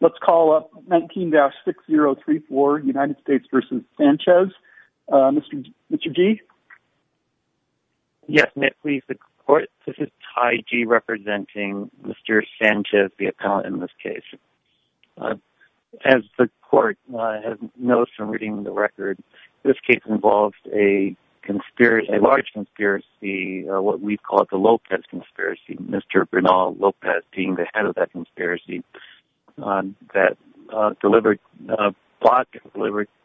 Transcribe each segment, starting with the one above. Let's call up 19-6034 United States v. Sanchez. Mr. G? Yes, Nick. This is Ty G representing Mr. Sanchez, the appellant in this case. As the court has noticed from reading the record, this case involves a large conspiracy, what we call the Lopez Conspiracy. Mr. Bernal Lopez being the head of that conspiracy that delivered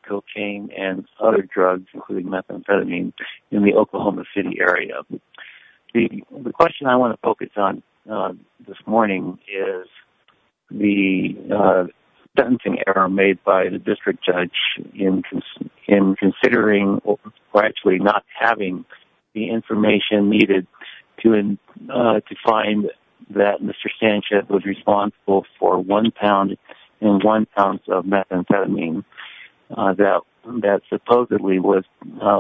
cocaine and other drugs, including methamphetamine, in the Oklahoma City area. The question I want to focus on this morning is the sentencing error made by the district judge in considering or actually not having the information needed to find that Mr. Sanchez was responsible for one pound and one ounce of methamphetamine that supposedly was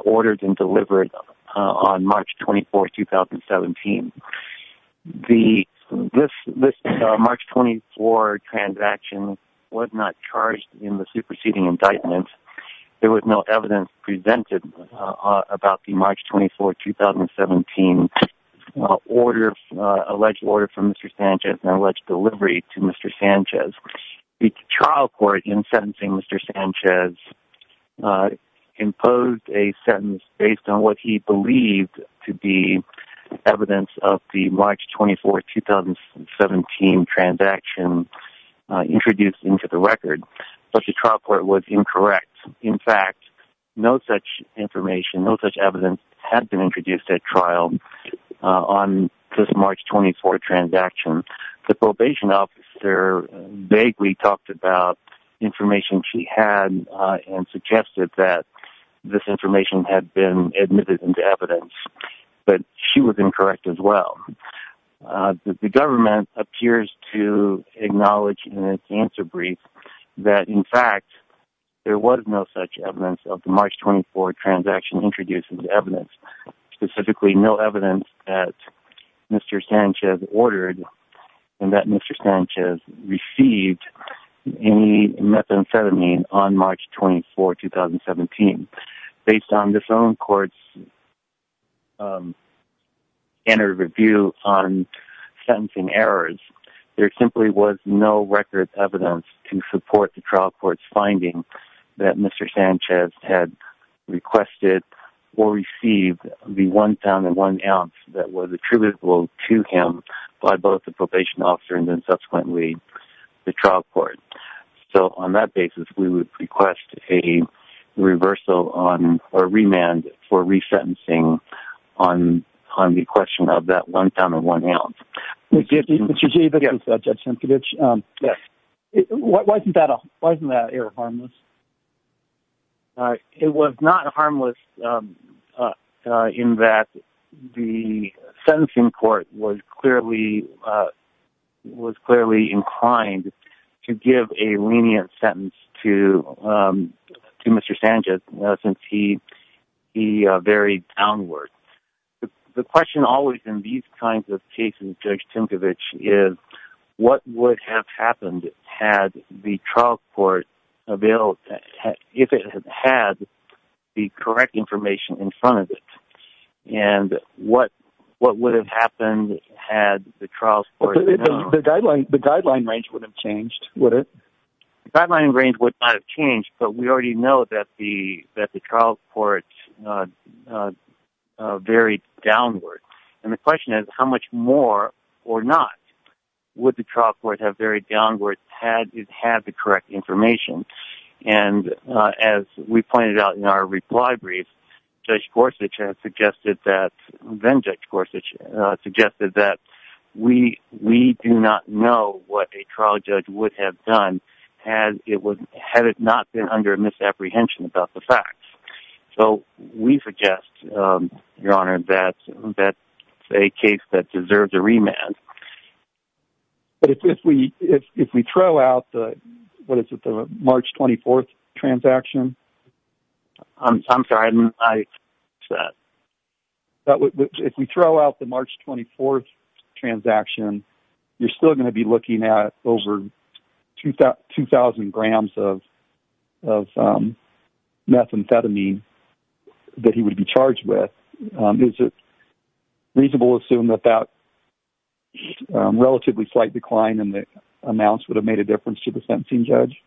ordered and delivered on March 24, 2017. This March 24 transaction was not charged in the superseding indictment. There was no evidence presented about the March 24, 2017 alleged order from Mr. Sanchez and alleged delivery to Mr. Sanchez. The trial court in sentencing Mr. Sanchez imposed a sentence based on what he believed to be evidence of the March 24, 2017 transaction introduced into the record. Such a trial court was incorrect. In fact, no such information, no such evidence had been introduced at trial on this March 24 transaction. The probation officer vaguely talked about information she had and suggested that this information had been admitted into evidence, but she was incorrect as well. The government appears to acknowledge in its answer brief that, in fact, there was no such evidence of the March 24 transaction introduced into evidence, specifically no evidence that Mr. Sanchez ordered and that Mr. Sanchez received any methamphetamine on March 24, 2017. Based on this own court's interview on sentencing errors, there simply was no record of evidence to support the trial court's finding that Mr. Sanchez had requested or received the one pound and one ounce that was attributable to him by both the probation officer and then subsequently the trial court. So, on that basis, we would request a reversal or remand for resentencing on the question of that one pound and one ounce. Mr. Chichibu, this is Judge Sienkiewicz. Wasn't that error harmless? It was not harmless in that the sentencing court was clearly inclined to give a lenient sentence to Mr. Sanchez since he varied downward. The question always in these kinds of cases, Judge Sienkiewicz, is what would have happened had the trial court availed...if it had the correct information in front of it? And what would have happened had the trial court... The guideline range would have changed, would it? The guideline range would not have changed, but we already know that the trial court varied downward. And the question is, how much more or not would the trial court have varied downward had it had the correct information? And as we pointed out in our reply brief, Judge Gorsuch has suggested that...then Judge Gorsuch suggested that we do not know what a trial judge would have done had it not been under a misapprehension about the facts. So, we suggest, Your Honor, that it's a case that deserves a remand. But if we throw out the...what is it, the March 24th transaction? I'm sorry, I didn't catch that. If we throw out the March 24th transaction, you're still going to be looking at over 2,000 grams of methamphetamine that he would be charged with. Is it reasonable to assume that that relatively slight decline in the amounts would have made a difference to the sentencing judge?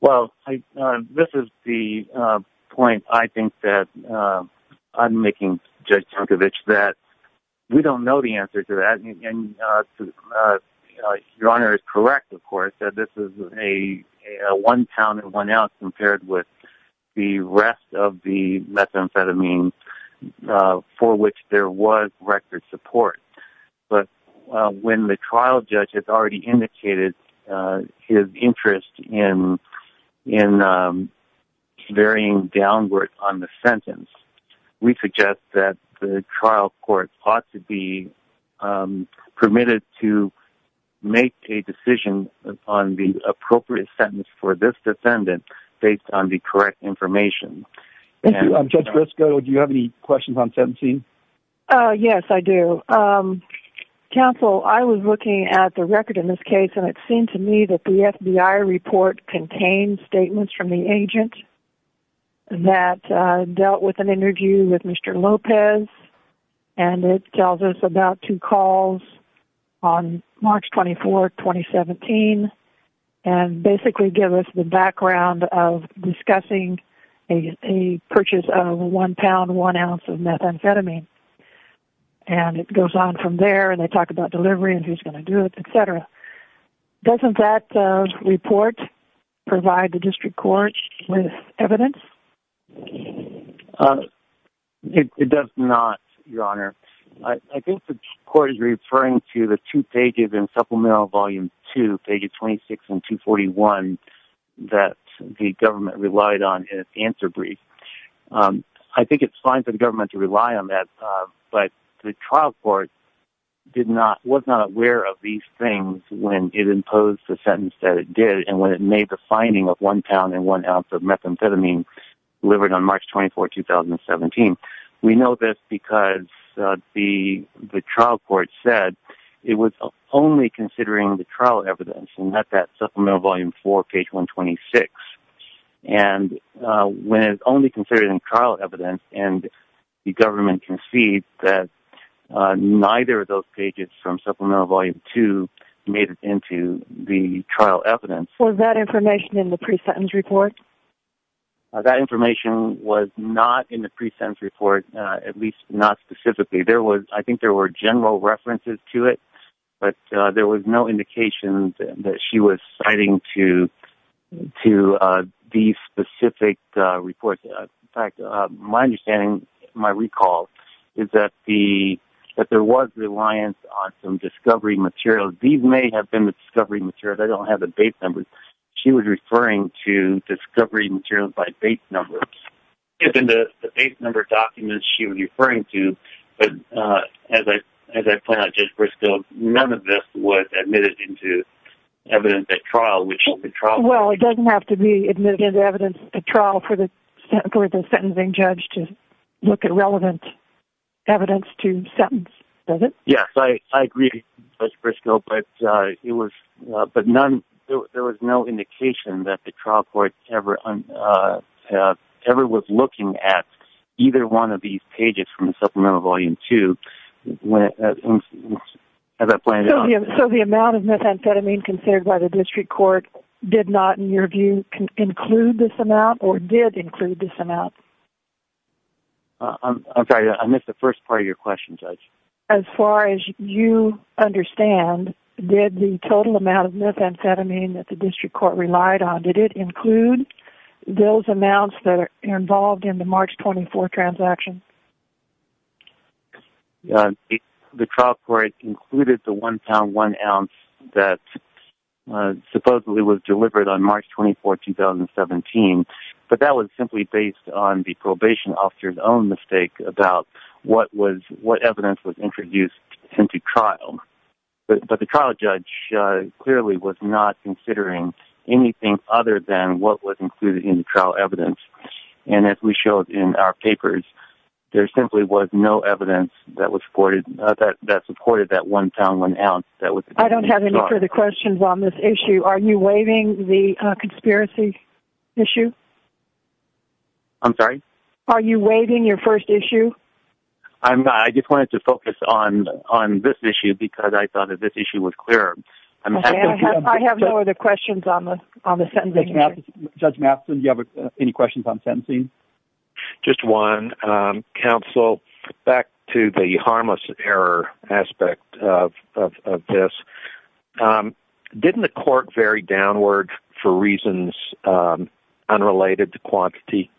Well, this is the point I think that I'm making, Judge Tunkovich, that we don't know the answer to that. And Your Honor is correct, of course, that this is a one pound and one ounce compared with the rest of the methamphetamine for which there was record support. But when the trial judge has already indicated his interest in varying downward on the sentence, we suggest that the trial court ought to be permitted to make a decision on the appropriate sentence for this defendant based on the correct information. Thank you. Judge Briscoe, do you have any questions on sentencing? Yes, I do. Counsel, I was looking at the record in this case, and it seemed to me that the FBI report contained statements from the agent that dealt with an interview with Mr. Lopez, and it tells us about two calls on March 24, 2017, and basically give us the background of discussing a purchase of one pound, one ounce of methamphetamine. And it goes on from there, and they talk about delivery and who's going to do it, et cetera. Doesn't that report provide the district court with evidence? It does not, Your Honor. I think the court is referring to the two pages in Supplemental Volume 2, pages 26 and 241, that the government relied on in its answer brief. I think it's fine for the government to rely on that, but the trial court was not aware of these things when it imposed the sentence that it did and when it made the finding of one pound and one ounce of methamphetamine delivered on March 24, 2017. We know this because the trial court said it was only considering the trial evidence and not that Supplemental Volume 4, page 126. And when it's only considering trial evidence and the government concedes that neither of those pages from Supplemental Volume 2 made it into the trial evidence... Was that information in the pre-sentence report? That information was not in the pre-sentence report, at least not specifically. There was... I think there were general references to it, but there was no indication that she was citing to these specific reports. In fact, my understanding, my recall, is that there was reliance on some discovery materials. These may have been the discovery materials. I don't have the base numbers. She was referring to discovery materials by base numbers. Yes, in the base number documents she was referring to, but as I point out, Judge Briscoe, none of this was admitted into evidence at trial, which is the trial... Well, it doesn't have to be admitted into evidence at trial for the sentencing judge to look at relevant evidence to sentence, does it? Yes, I agree, Judge Briscoe, but there was no indication that the trial court ever was looking at either one of these pages from Supplemental Volume 2. So the amount of methamphetamine considered by the district court did not, in your view, include this amount or did include this amount? I'm sorry. I missed the first part of your question, Judge. As far as you understand, did the total amount of methamphetamine that the district court relied on, did it include those amounts that are involved in the March 24 transaction? The trial court included the one pound, one ounce that supposedly was delivered on March 24, 2017, but that was simply based on the probation officer's own mistake about what evidence was introduced into trial. But the trial judge clearly was not considering anything other than what was included in the trial evidence. And as we showed in our papers, there simply was no evidence that supported that one pound, one ounce. I don't have any further questions on this issue. Are you waiving the conspiracy issue? I'm sorry? Are you waiving your first issue? I just wanted to focus on this issue because I thought that this issue was clearer. I have no other questions on the sentencing issue. Judge Matheson, do you have any questions on sentencing? Just one. Counsel, back to the harmless error aspect of this, didn't the court vary downward for reasons unrelated to quantity?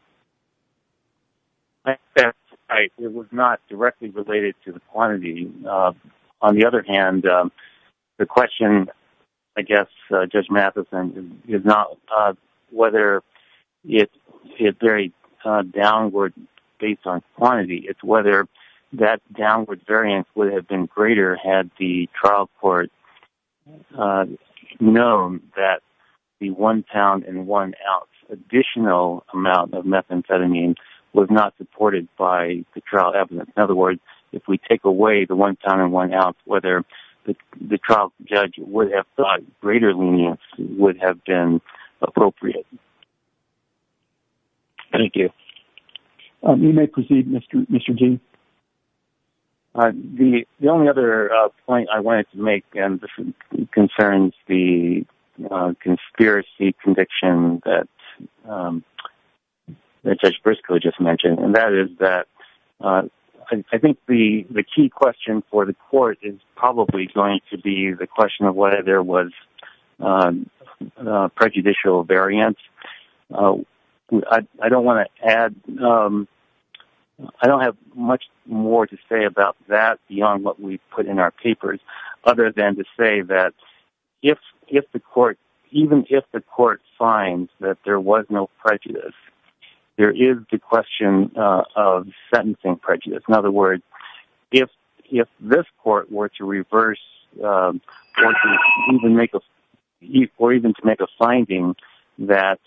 It was not directly related to the quantity. On the other hand, the question, I guess, Judge Matheson, is not whether it varied downward based on quantity. It's whether that downward variance would have been greater had the trial court known that the one pound and one ounce additional amount of methamphetamine was not supported by the trial evidence. In other words, if we take away the one pound and one ounce, whether the trial judge would have thought greater lenience would have been appropriate. Thank you. You may proceed, Mr. G. The only other point I wanted to make concerns the conspiracy conviction that Judge Briscoe just mentioned. That is that I think the key question for the court is probably going to be the question of whether there was prejudicial variance. I don't have much more to say about that beyond what we put in our papers, other than to say that even if the court finds that there was no prejudice, there is the question of sentencing prejudice. In other words, if this court were to reverse or even to make a finding that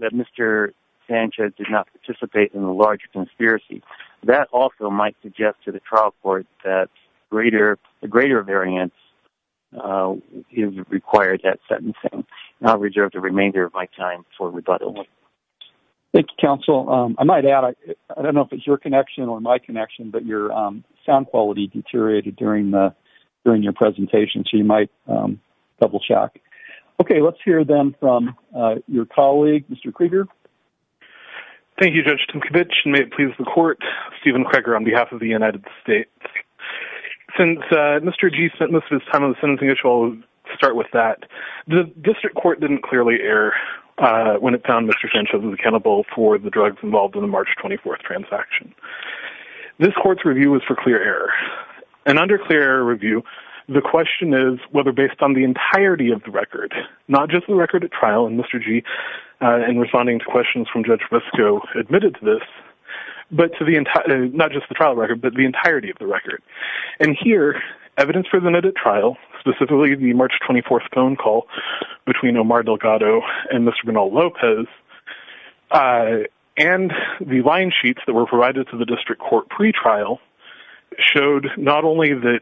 Mr. Sanchez did not participate in the large conspiracy, that also might suggest to the trial court that a greater variance is required that sentencing. I'll reserve the remainder of my time for rebuttal. Thank you, counsel. I might add, I don't know if it's your connection or my connection, but your sound quality deteriorated during your presentation, so you might double check. Okay, let's hear them from your colleague, Mr. Krieger. Thank you, Judge Timkovich. And may it please the court, Stephen Krieger on behalf of the United States. Since Mr. Gee spent most of his time on the sentencing issue, I'll start with that. The district court didn't clearly err when it found Mr. Sanchez was accountable for the drugs involved in the March 24th transaction. This court's review was for clear error. And under clear error review, the question is whether based on the entirety of the record, not just the record at trial, and Mr. Gee, in responding to questions from Judge Visco, admitted to this, but to the entire, not just the trial record, but the entirety of the record. And here, evidence for the NIDA trial, specifically the March 24th phone call between Omar Delgado and Mr. Bernal Lopez, and the line sheets that were provided to the district court pre-trial, showed not only that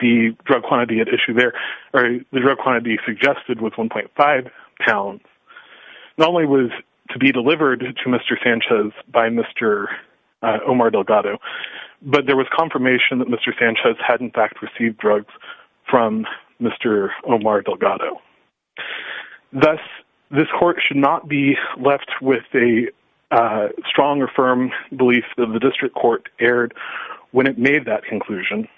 the drug quantity at issue there, or the drug quantity suggested was 1.5 pounds, not only was to be delivered to Mr. Sanchez by Mr. Omar Delgado, but there was confirmation that Mr. Sanchez had in fact received drugs from Mr. Omar Delgado. Thus, this court should not be left with a strong or firm belief that the district court erred when it made that conclusion.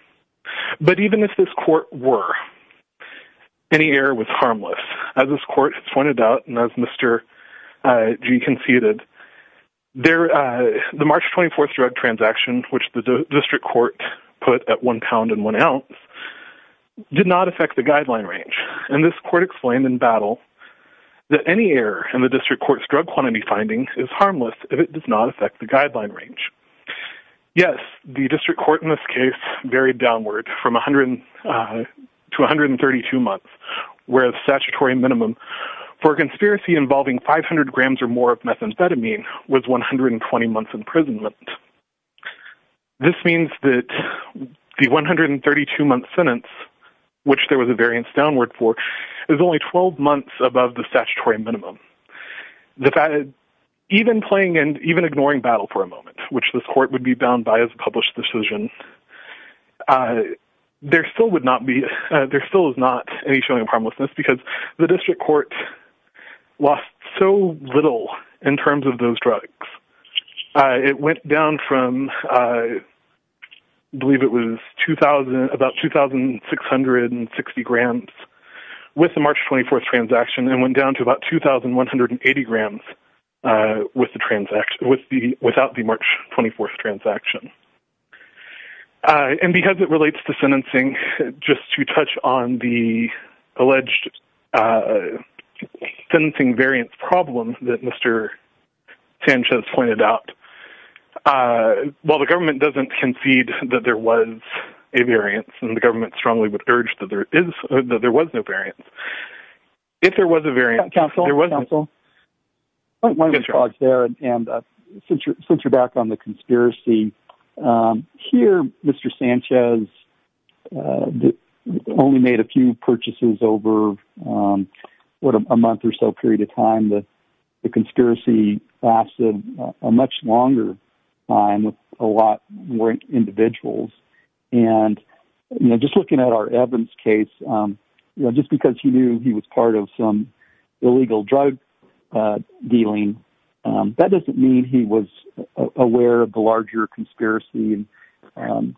But even if this court were, any error was harmless. As this court has pointed out, and as Mr. Gee conceded, the March 24th drug transaction, which the district court put at 1 pound and 1 ounce, did not affect the guideline range. And this court explained in battle that any error in the district court's drug quantity findings is harmless if it does not affect the guideline range. Yes, the district court in this case varied downward from 100 to 132 months, where the statutory minimum for a conspiracy involving 500 grams or more of methamphetamine was 120 months imprisonment. This means that the 132 month sentence, which there was a variance downward for, is only 12 months above the statutory minimum. Even ignoring battle for a moment, which this court would be bound by as a published decision, there still is not any showing of harmlessness because the district court lost so little in terms of those drugs. It went down from, I believe it was about 2,660 grams with the March 24th transaction, and went down to about 2,180 grams without the March 24th transaction. And because it relates to sentencing, just to touch on the alleged sentencing variance problem that Mr. Sanchez pointed out, while the government doesn't concede that there was a variance, and the government strongly would urge that there was no variance, if there was a variance... Since you're back on the conspiracy, here Mr. Sanchez only made a few purchases over a month or so period of time. The conspiracy lasted a much longer time with a lot more individuals. Just looking at our Evans case, just because he knew he was part of some illegal drug dealing, that doesn't mean he was aware of the larger conspiracy.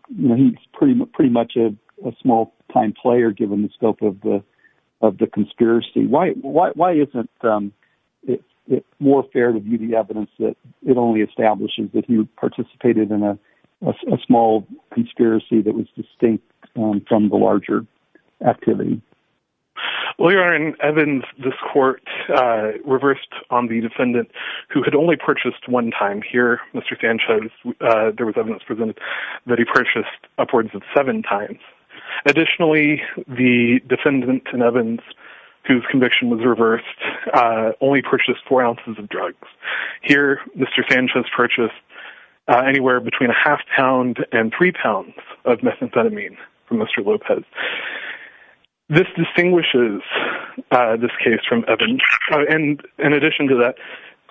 He's pretty much a small time player given the scope of the conspiracy. Why isn't it more fair to view the evidence that it only establishes that he participated in a small conspiracy that was distinct from the larger activity? Well, Your Honor, in Evans, this court reversed on the defendant who had only purchased one time. Here, Mr. Sanchez, there was evidence presented that he purchased upwards of seven times. Additionally, the defendant in Evans, whose conviction was reversed, only purchased four ounces of drugs. Here, Mr. Sanchez purchased anywhere between a half pound and three pounds of methamphetamine from Mr. Lopez. This distinguishes this case from Evans. In addition to that,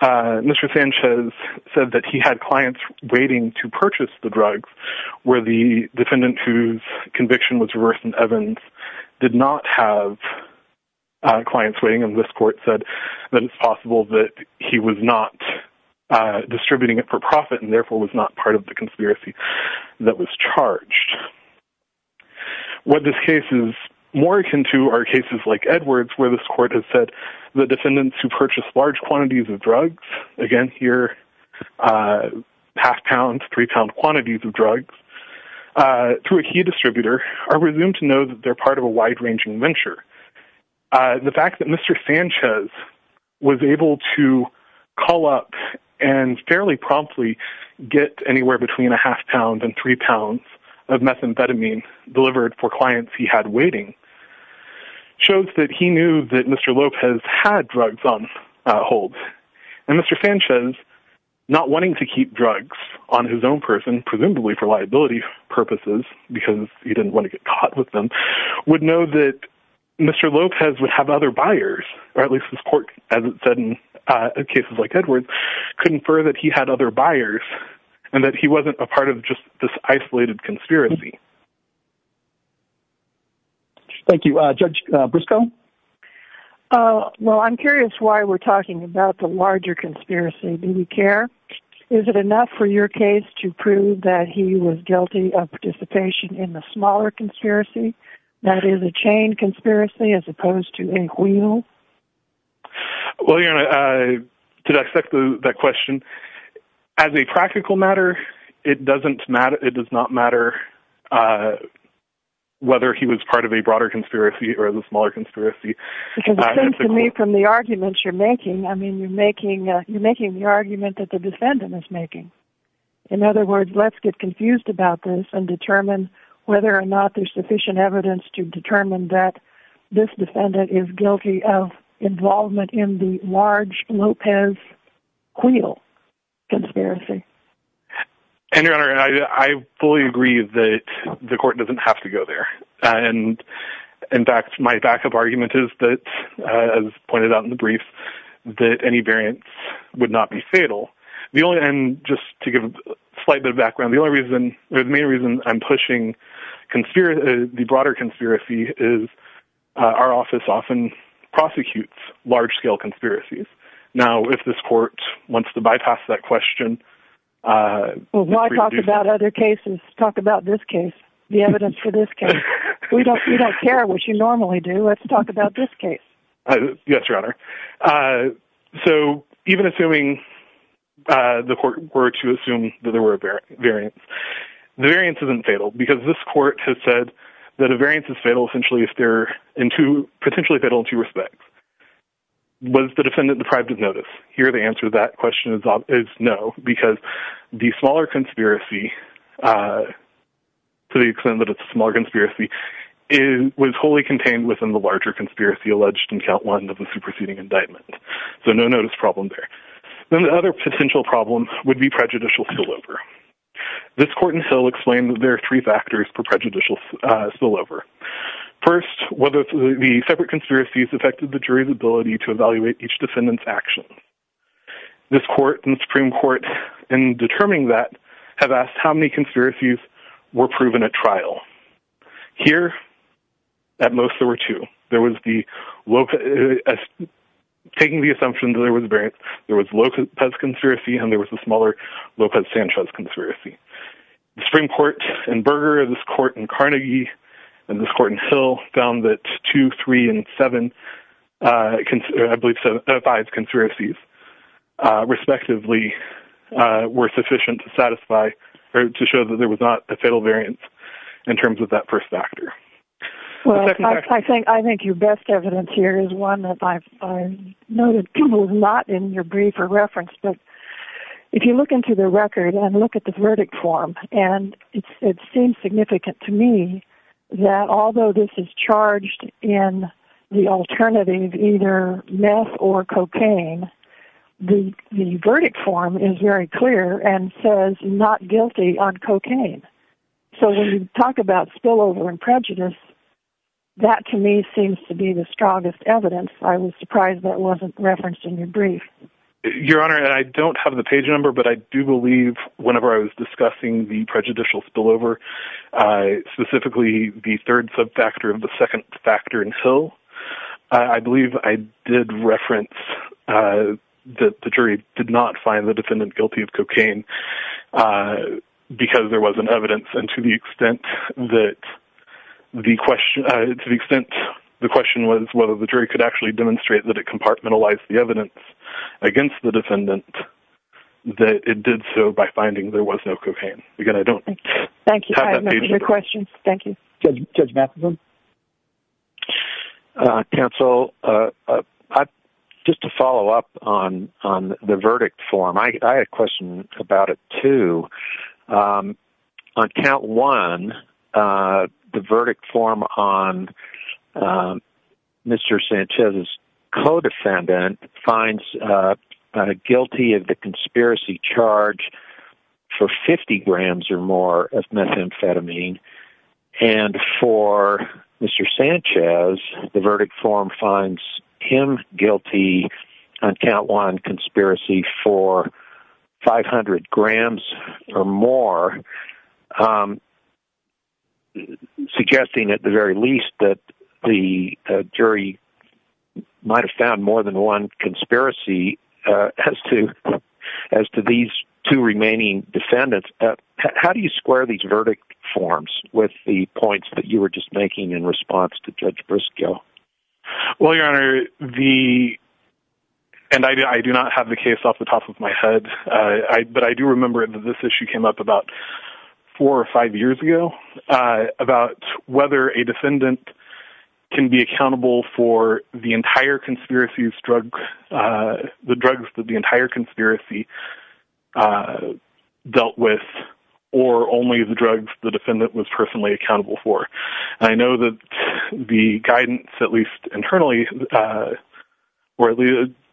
Mr. Sanchez said that he had clients waiting to purchase the drugs where the defendant, whose conviction was reversed in Evans, did not have clients waiting. This court said that it's possible that he was not distributing it for profit and therefore was not part of the conspiracy that was charged. What this case is more akin to are cases like Edwards where this court has said the defendants who purchased large quantities of drugs, again here, half pounds, three pound quantities of drugs, through a key distributor are presumed to know that they're part of a wide-ranging venture. The fact that Mr. Sanchez was able to call up and fairly promptly get anywhere between a half pound and three pounds of methamphetamine delivered for clients he had waiting shows that he knew that Mr. Lopez had drugs on hold. And Mr. Sanchez, not wanting to keep drugs on his own person, presumably for liability purposes because he didn't want to get caught with them, would know that Mr. Lopez would have other buyers, or at least this court, as it said in cases like Edwards, could infer that he had other buyers and that he wasn't a part of just this isolated conspiracy. Thank you. Judge Briscoe? Well, I'm curious why we're talking about the larger conspiracy. Do you care? Is it enough for your case to prove that he was guilty of participation in the smaller conspiracy, that is a chain conspiracy as opposed to a wheel? Well, you know, to dissect that question, as a practical matter, it does not matter whether he was part of a broader conspiracy or the smaller conspiracy. Because it seems to me from the arguments you're making, I mean, you're making the argument that the defendant is making. In other words, let's get confused about this and determine whether or not there's sufficient evidence to determine that this defendant is guilty of involvement in the large Lopez wheel conspiracy. And, Your Honor, I fully agree that the court doesn't have to go there. And, in fact, my backup argument is that, as pointed out in the brief, that any variance would not be fatal. And just to give a slight bit of background, the main reason I'm pushing the broader conspiracy is our office often prosecutes large-scale conspiracies. Now, if this court wants to bypass that question... Well, why talk about other cases? Talk about this case, the evidence for this case. We don't care what you normally do. Let's talk about this case. Yes, Your Honor. So, even assuming the court were to assume that there were variants, the variance isn't fatal. Because this court has said that a variance is fatal, essentially, if they're potentially fatal in two respects. Was the defendant deprived of notice? Here, the answer to that question is no. Because the smaller conspiracy, to the extent that it's a smaller conspiracy, was wholly contained within the larger conspiracy alleged in Count 1 of the superseding indictment. So, no notice problem there. Then the other potential problem would be prejudicial spillover. This court in Hill explained that there are three factors for prejudicial spillover. First, whether the separate conspiracies affected the jury's ability to evaluate each defendant's action. This court and the Supreme Court, in determining that, have asked how many conspiracies were proven at trial. Here, at most, there were two. Taking the assumption that there was a variance, there was Lopez's conspiracy and there was the smaller Lopez-Sanchez conspiracy. The Supreme Court in Berger, this court in Carnegie, and this court in Hill found that two, three, and seven, I believe five conspiracies, respectively, were sufficient to satisfy or to show that there was not a fatal variance in terms of that first factor. Well, I think your best evidence here is one that I've noted not in your brief or reference, but if you look into the record and look at the verdict form, and it seems significant to me that although this is charged in the alternative, either meth or cocaine, the verdict form is very clear and says not guilty on cocaine. So when you talk about spillover and prejudice, that to me seems to be the strongest evidence. I was surprised that wasn't referenced in your brief. Your Honor, I don't have the page number, but I do believe whenever I was discussing the prejudicial spillover, specifically the third sub-factor of the second factor in Hill, I believe I did reference that the jury did not find the defendant guilty of cocaine because there wasn't evidence. And to the extent that the question was whether the jury could actually demonstrate that it compartmentalized the evidence against the defendant, that it did so by finding there was no cocaine. Again, I don't have that page number. Thank you. I have no further questions. Thank you. Judge Matheson? Counsel, just to follow up on the verdict form, I had a question about it too. On count one, the verdict form on Mr. Sanchez's co-defendant finds guilty of the conspiracy charge for 50 grams or more of methamphetamine. And for Mr. Sanchez, the verdict form finds him guilty on count one conspiracy for 500 grams or more, suggesting at the very least that the jury might have found more than one conspiracy as to these two remaining defendants. How do you square these verdict forms with the points that you were just making in response to Judge Briscoe? Well, Your Honor, and I do not have the case off the top of my head, but I do remember that this issue came up about four or five years ago about whether a defendant can be accountable for the entire conspiracy, the drugs that the entire conspiracy dealt with, or only the drugs the defendant was personally accountable for. And I know that the guidance, at least internally, or at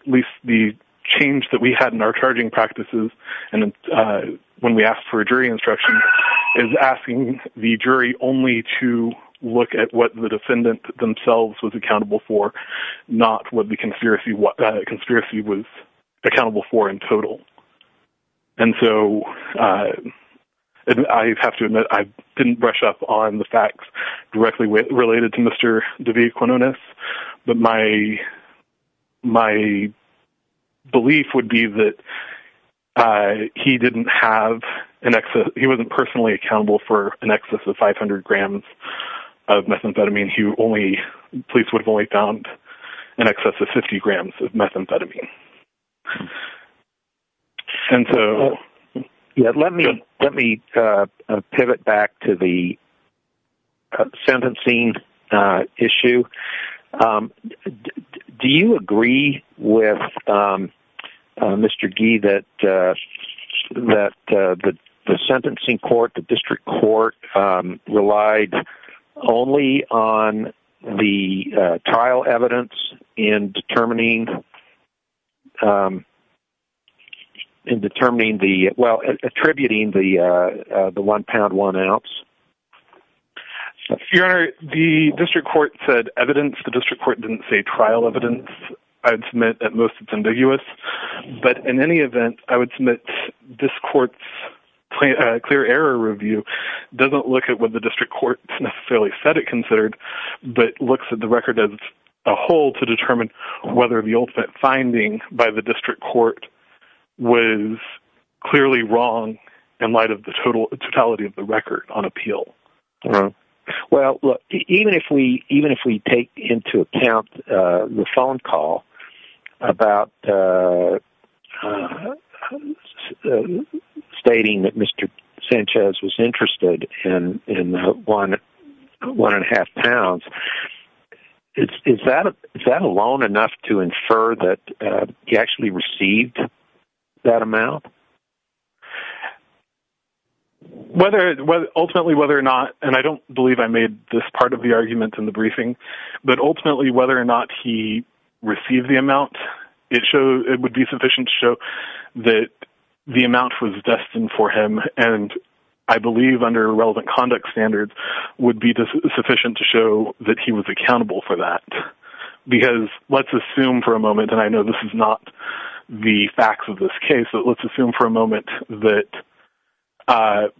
least the change that we had in our charging practices when we asked for a jury instruction is asking the jury only to look at what the defendant themselves was accountable for, not what the conspiracy was accountable for in total. And so, I have to admit, I didn't brush up on the facts directly related to Mr. DeVita-Quinones, but my belief would be that he didn't have an excess – he wasn't personally accountable for an excess of 500 grams of methamphetamine. He only – the police would have only found an excess of 50 grams of methamphetamine. And so – In determining the – well, attributing the one-pound, one-ounce? Your Honor, the district court said evidence. The district court didn't say trial evidence. I would submit that most of it's ambiguous. But in any event, I would submit this court's clear error review doesn't look at what the district court necessarily said it considered, but looks at the record as a whole to determine whether the ultimate finding by the district court was clearly wrong in light of the totality of the record on appeal. Well, look, even if we take into account the phone call about stating that Mr. Sanchez was interested in the one and a half pounds, is that alone enough to infer that he actually received that amount? Ultimately, whether or not – and I don't believe I made this part of the argument in the briefing – but ultimately, whether or not he received the amount, it would be sufficient to show that the amount was destined for him, and I believe under relevant conduct standards, would be sufficient to show that he was accountable for that. Because let's assume for a moment – and I know this is not the facts of this case – but let's assume for a moment that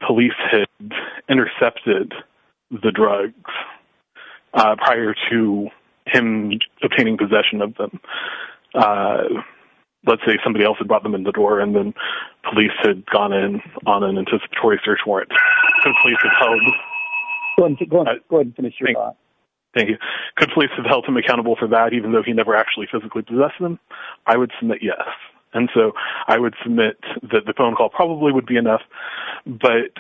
police had intercepted the drugs prior to him obtaining possession of them. Let's say somebody else had brought them in the door, and then police had gone in on an anticipatory search warrant. Go ahead and finish your thought. Thank you. Could police have held him accountable for that, even though he never actually physically possessed them? I would submit yes. And so, I would submit that the phone call probably would be enough, but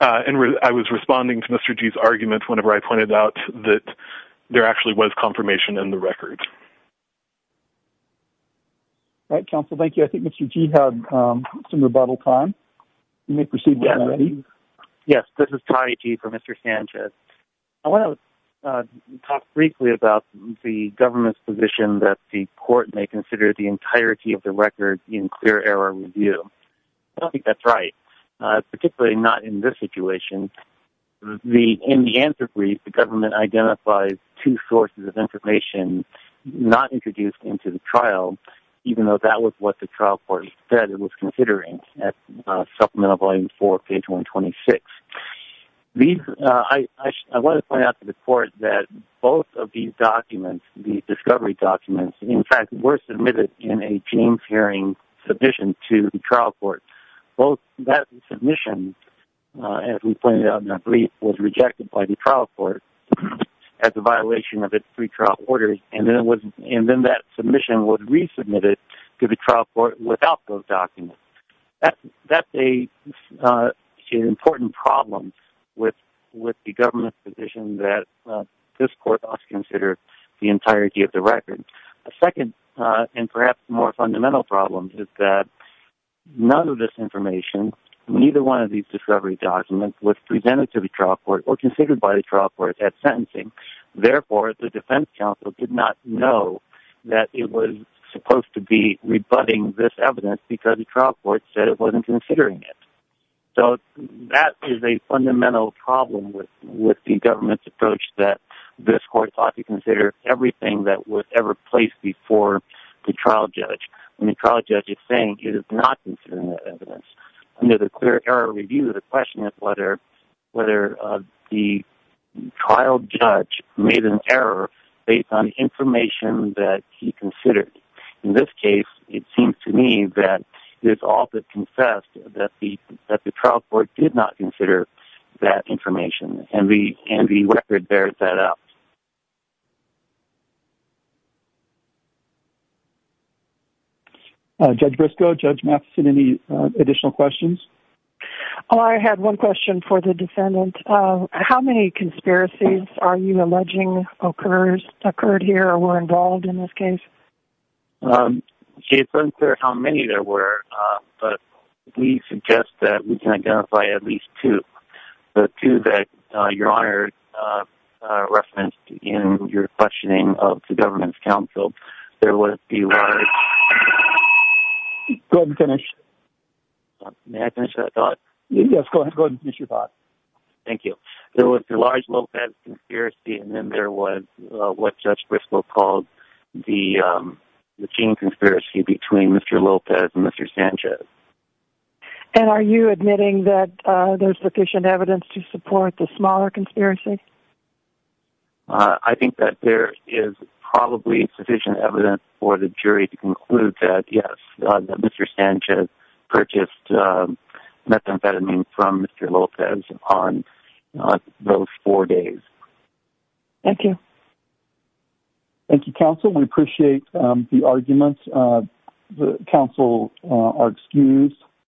I was responding to Mr. Gee's argument whenever I pointed out that there actually was confirmation in the record. All right, counsel, thank you. I think Mr. Gee had some rebuttal time. You may proceed, Mr. Lennon. Yes, this is Tommy Gee for Mr. Sanchez. I want to talk briefly about the government's position that the court may consider the entirety of the record in clear error review. I don't think that's right, particularly not in this situation. In the answer brief, the government identified two sources of information not introduced into the trial, even though that was what the trial court said it was considering at Supplemental Volume 4, page 126. I want to point out to the court that both of these discovery documents, in fact, were submitted in a James Hearing submission to the trial court. That submission, as we pointed out in the brief, was rejected by the trial court as a violation of its pre-trial orders, and then that submission was resubmitted to the trial court without those documents. That's an important problem with the government's position that this court must consider the entirety of the record. A second and perhaps more fundamental problem is that none of this information, neither one of these discovery documents, was presented to the trial court or considered by the trial court at sentencing. Therefore, the defense counsel did not know that it was supposed to be rebutting this evidence because the trial court said it wasn't considering it. So, that is a fundamental problem with the government's approach that this court ought to consider everything that was ever placed before the trial judge. When the trial judge is saying it is not considering that evidence, under the Clear Error Review, the question is whether the trial judge made an error based on information that he considered. In this case, it seems to me that it's all but confessed that the trial court did not consider that information, and the record bears that out. Judge Briscoe, Judge Matheson, any additional questions? I had one question for the defendant. How many conspiracies are you alleging occurred here or were involved in this case? It's unclear how many there were, but we suggest that we can identify at least two. The two that Your Honor referenced in your questioning of the government's counsel. There was the large... Go ahead and finish. May I finish that thought? Yes, go ahead and finish your thought. Thank you. There was the large Lopez conspiracy, and then there was what Judge Briscoe called the gene conspiracy between Mr. Lopez and Mr. Sanchez. And are you admitting that there's sufficient evidence to support the smaller conspiracy? I think that there is probably sufficient evidence for the jury to conclude that, yes, Mr. Sanchez purchased methamphetamine from Mr. Lopez on those four days. Thank you. Thank you, counsel. We appreciate the arguments. Counsel are excused.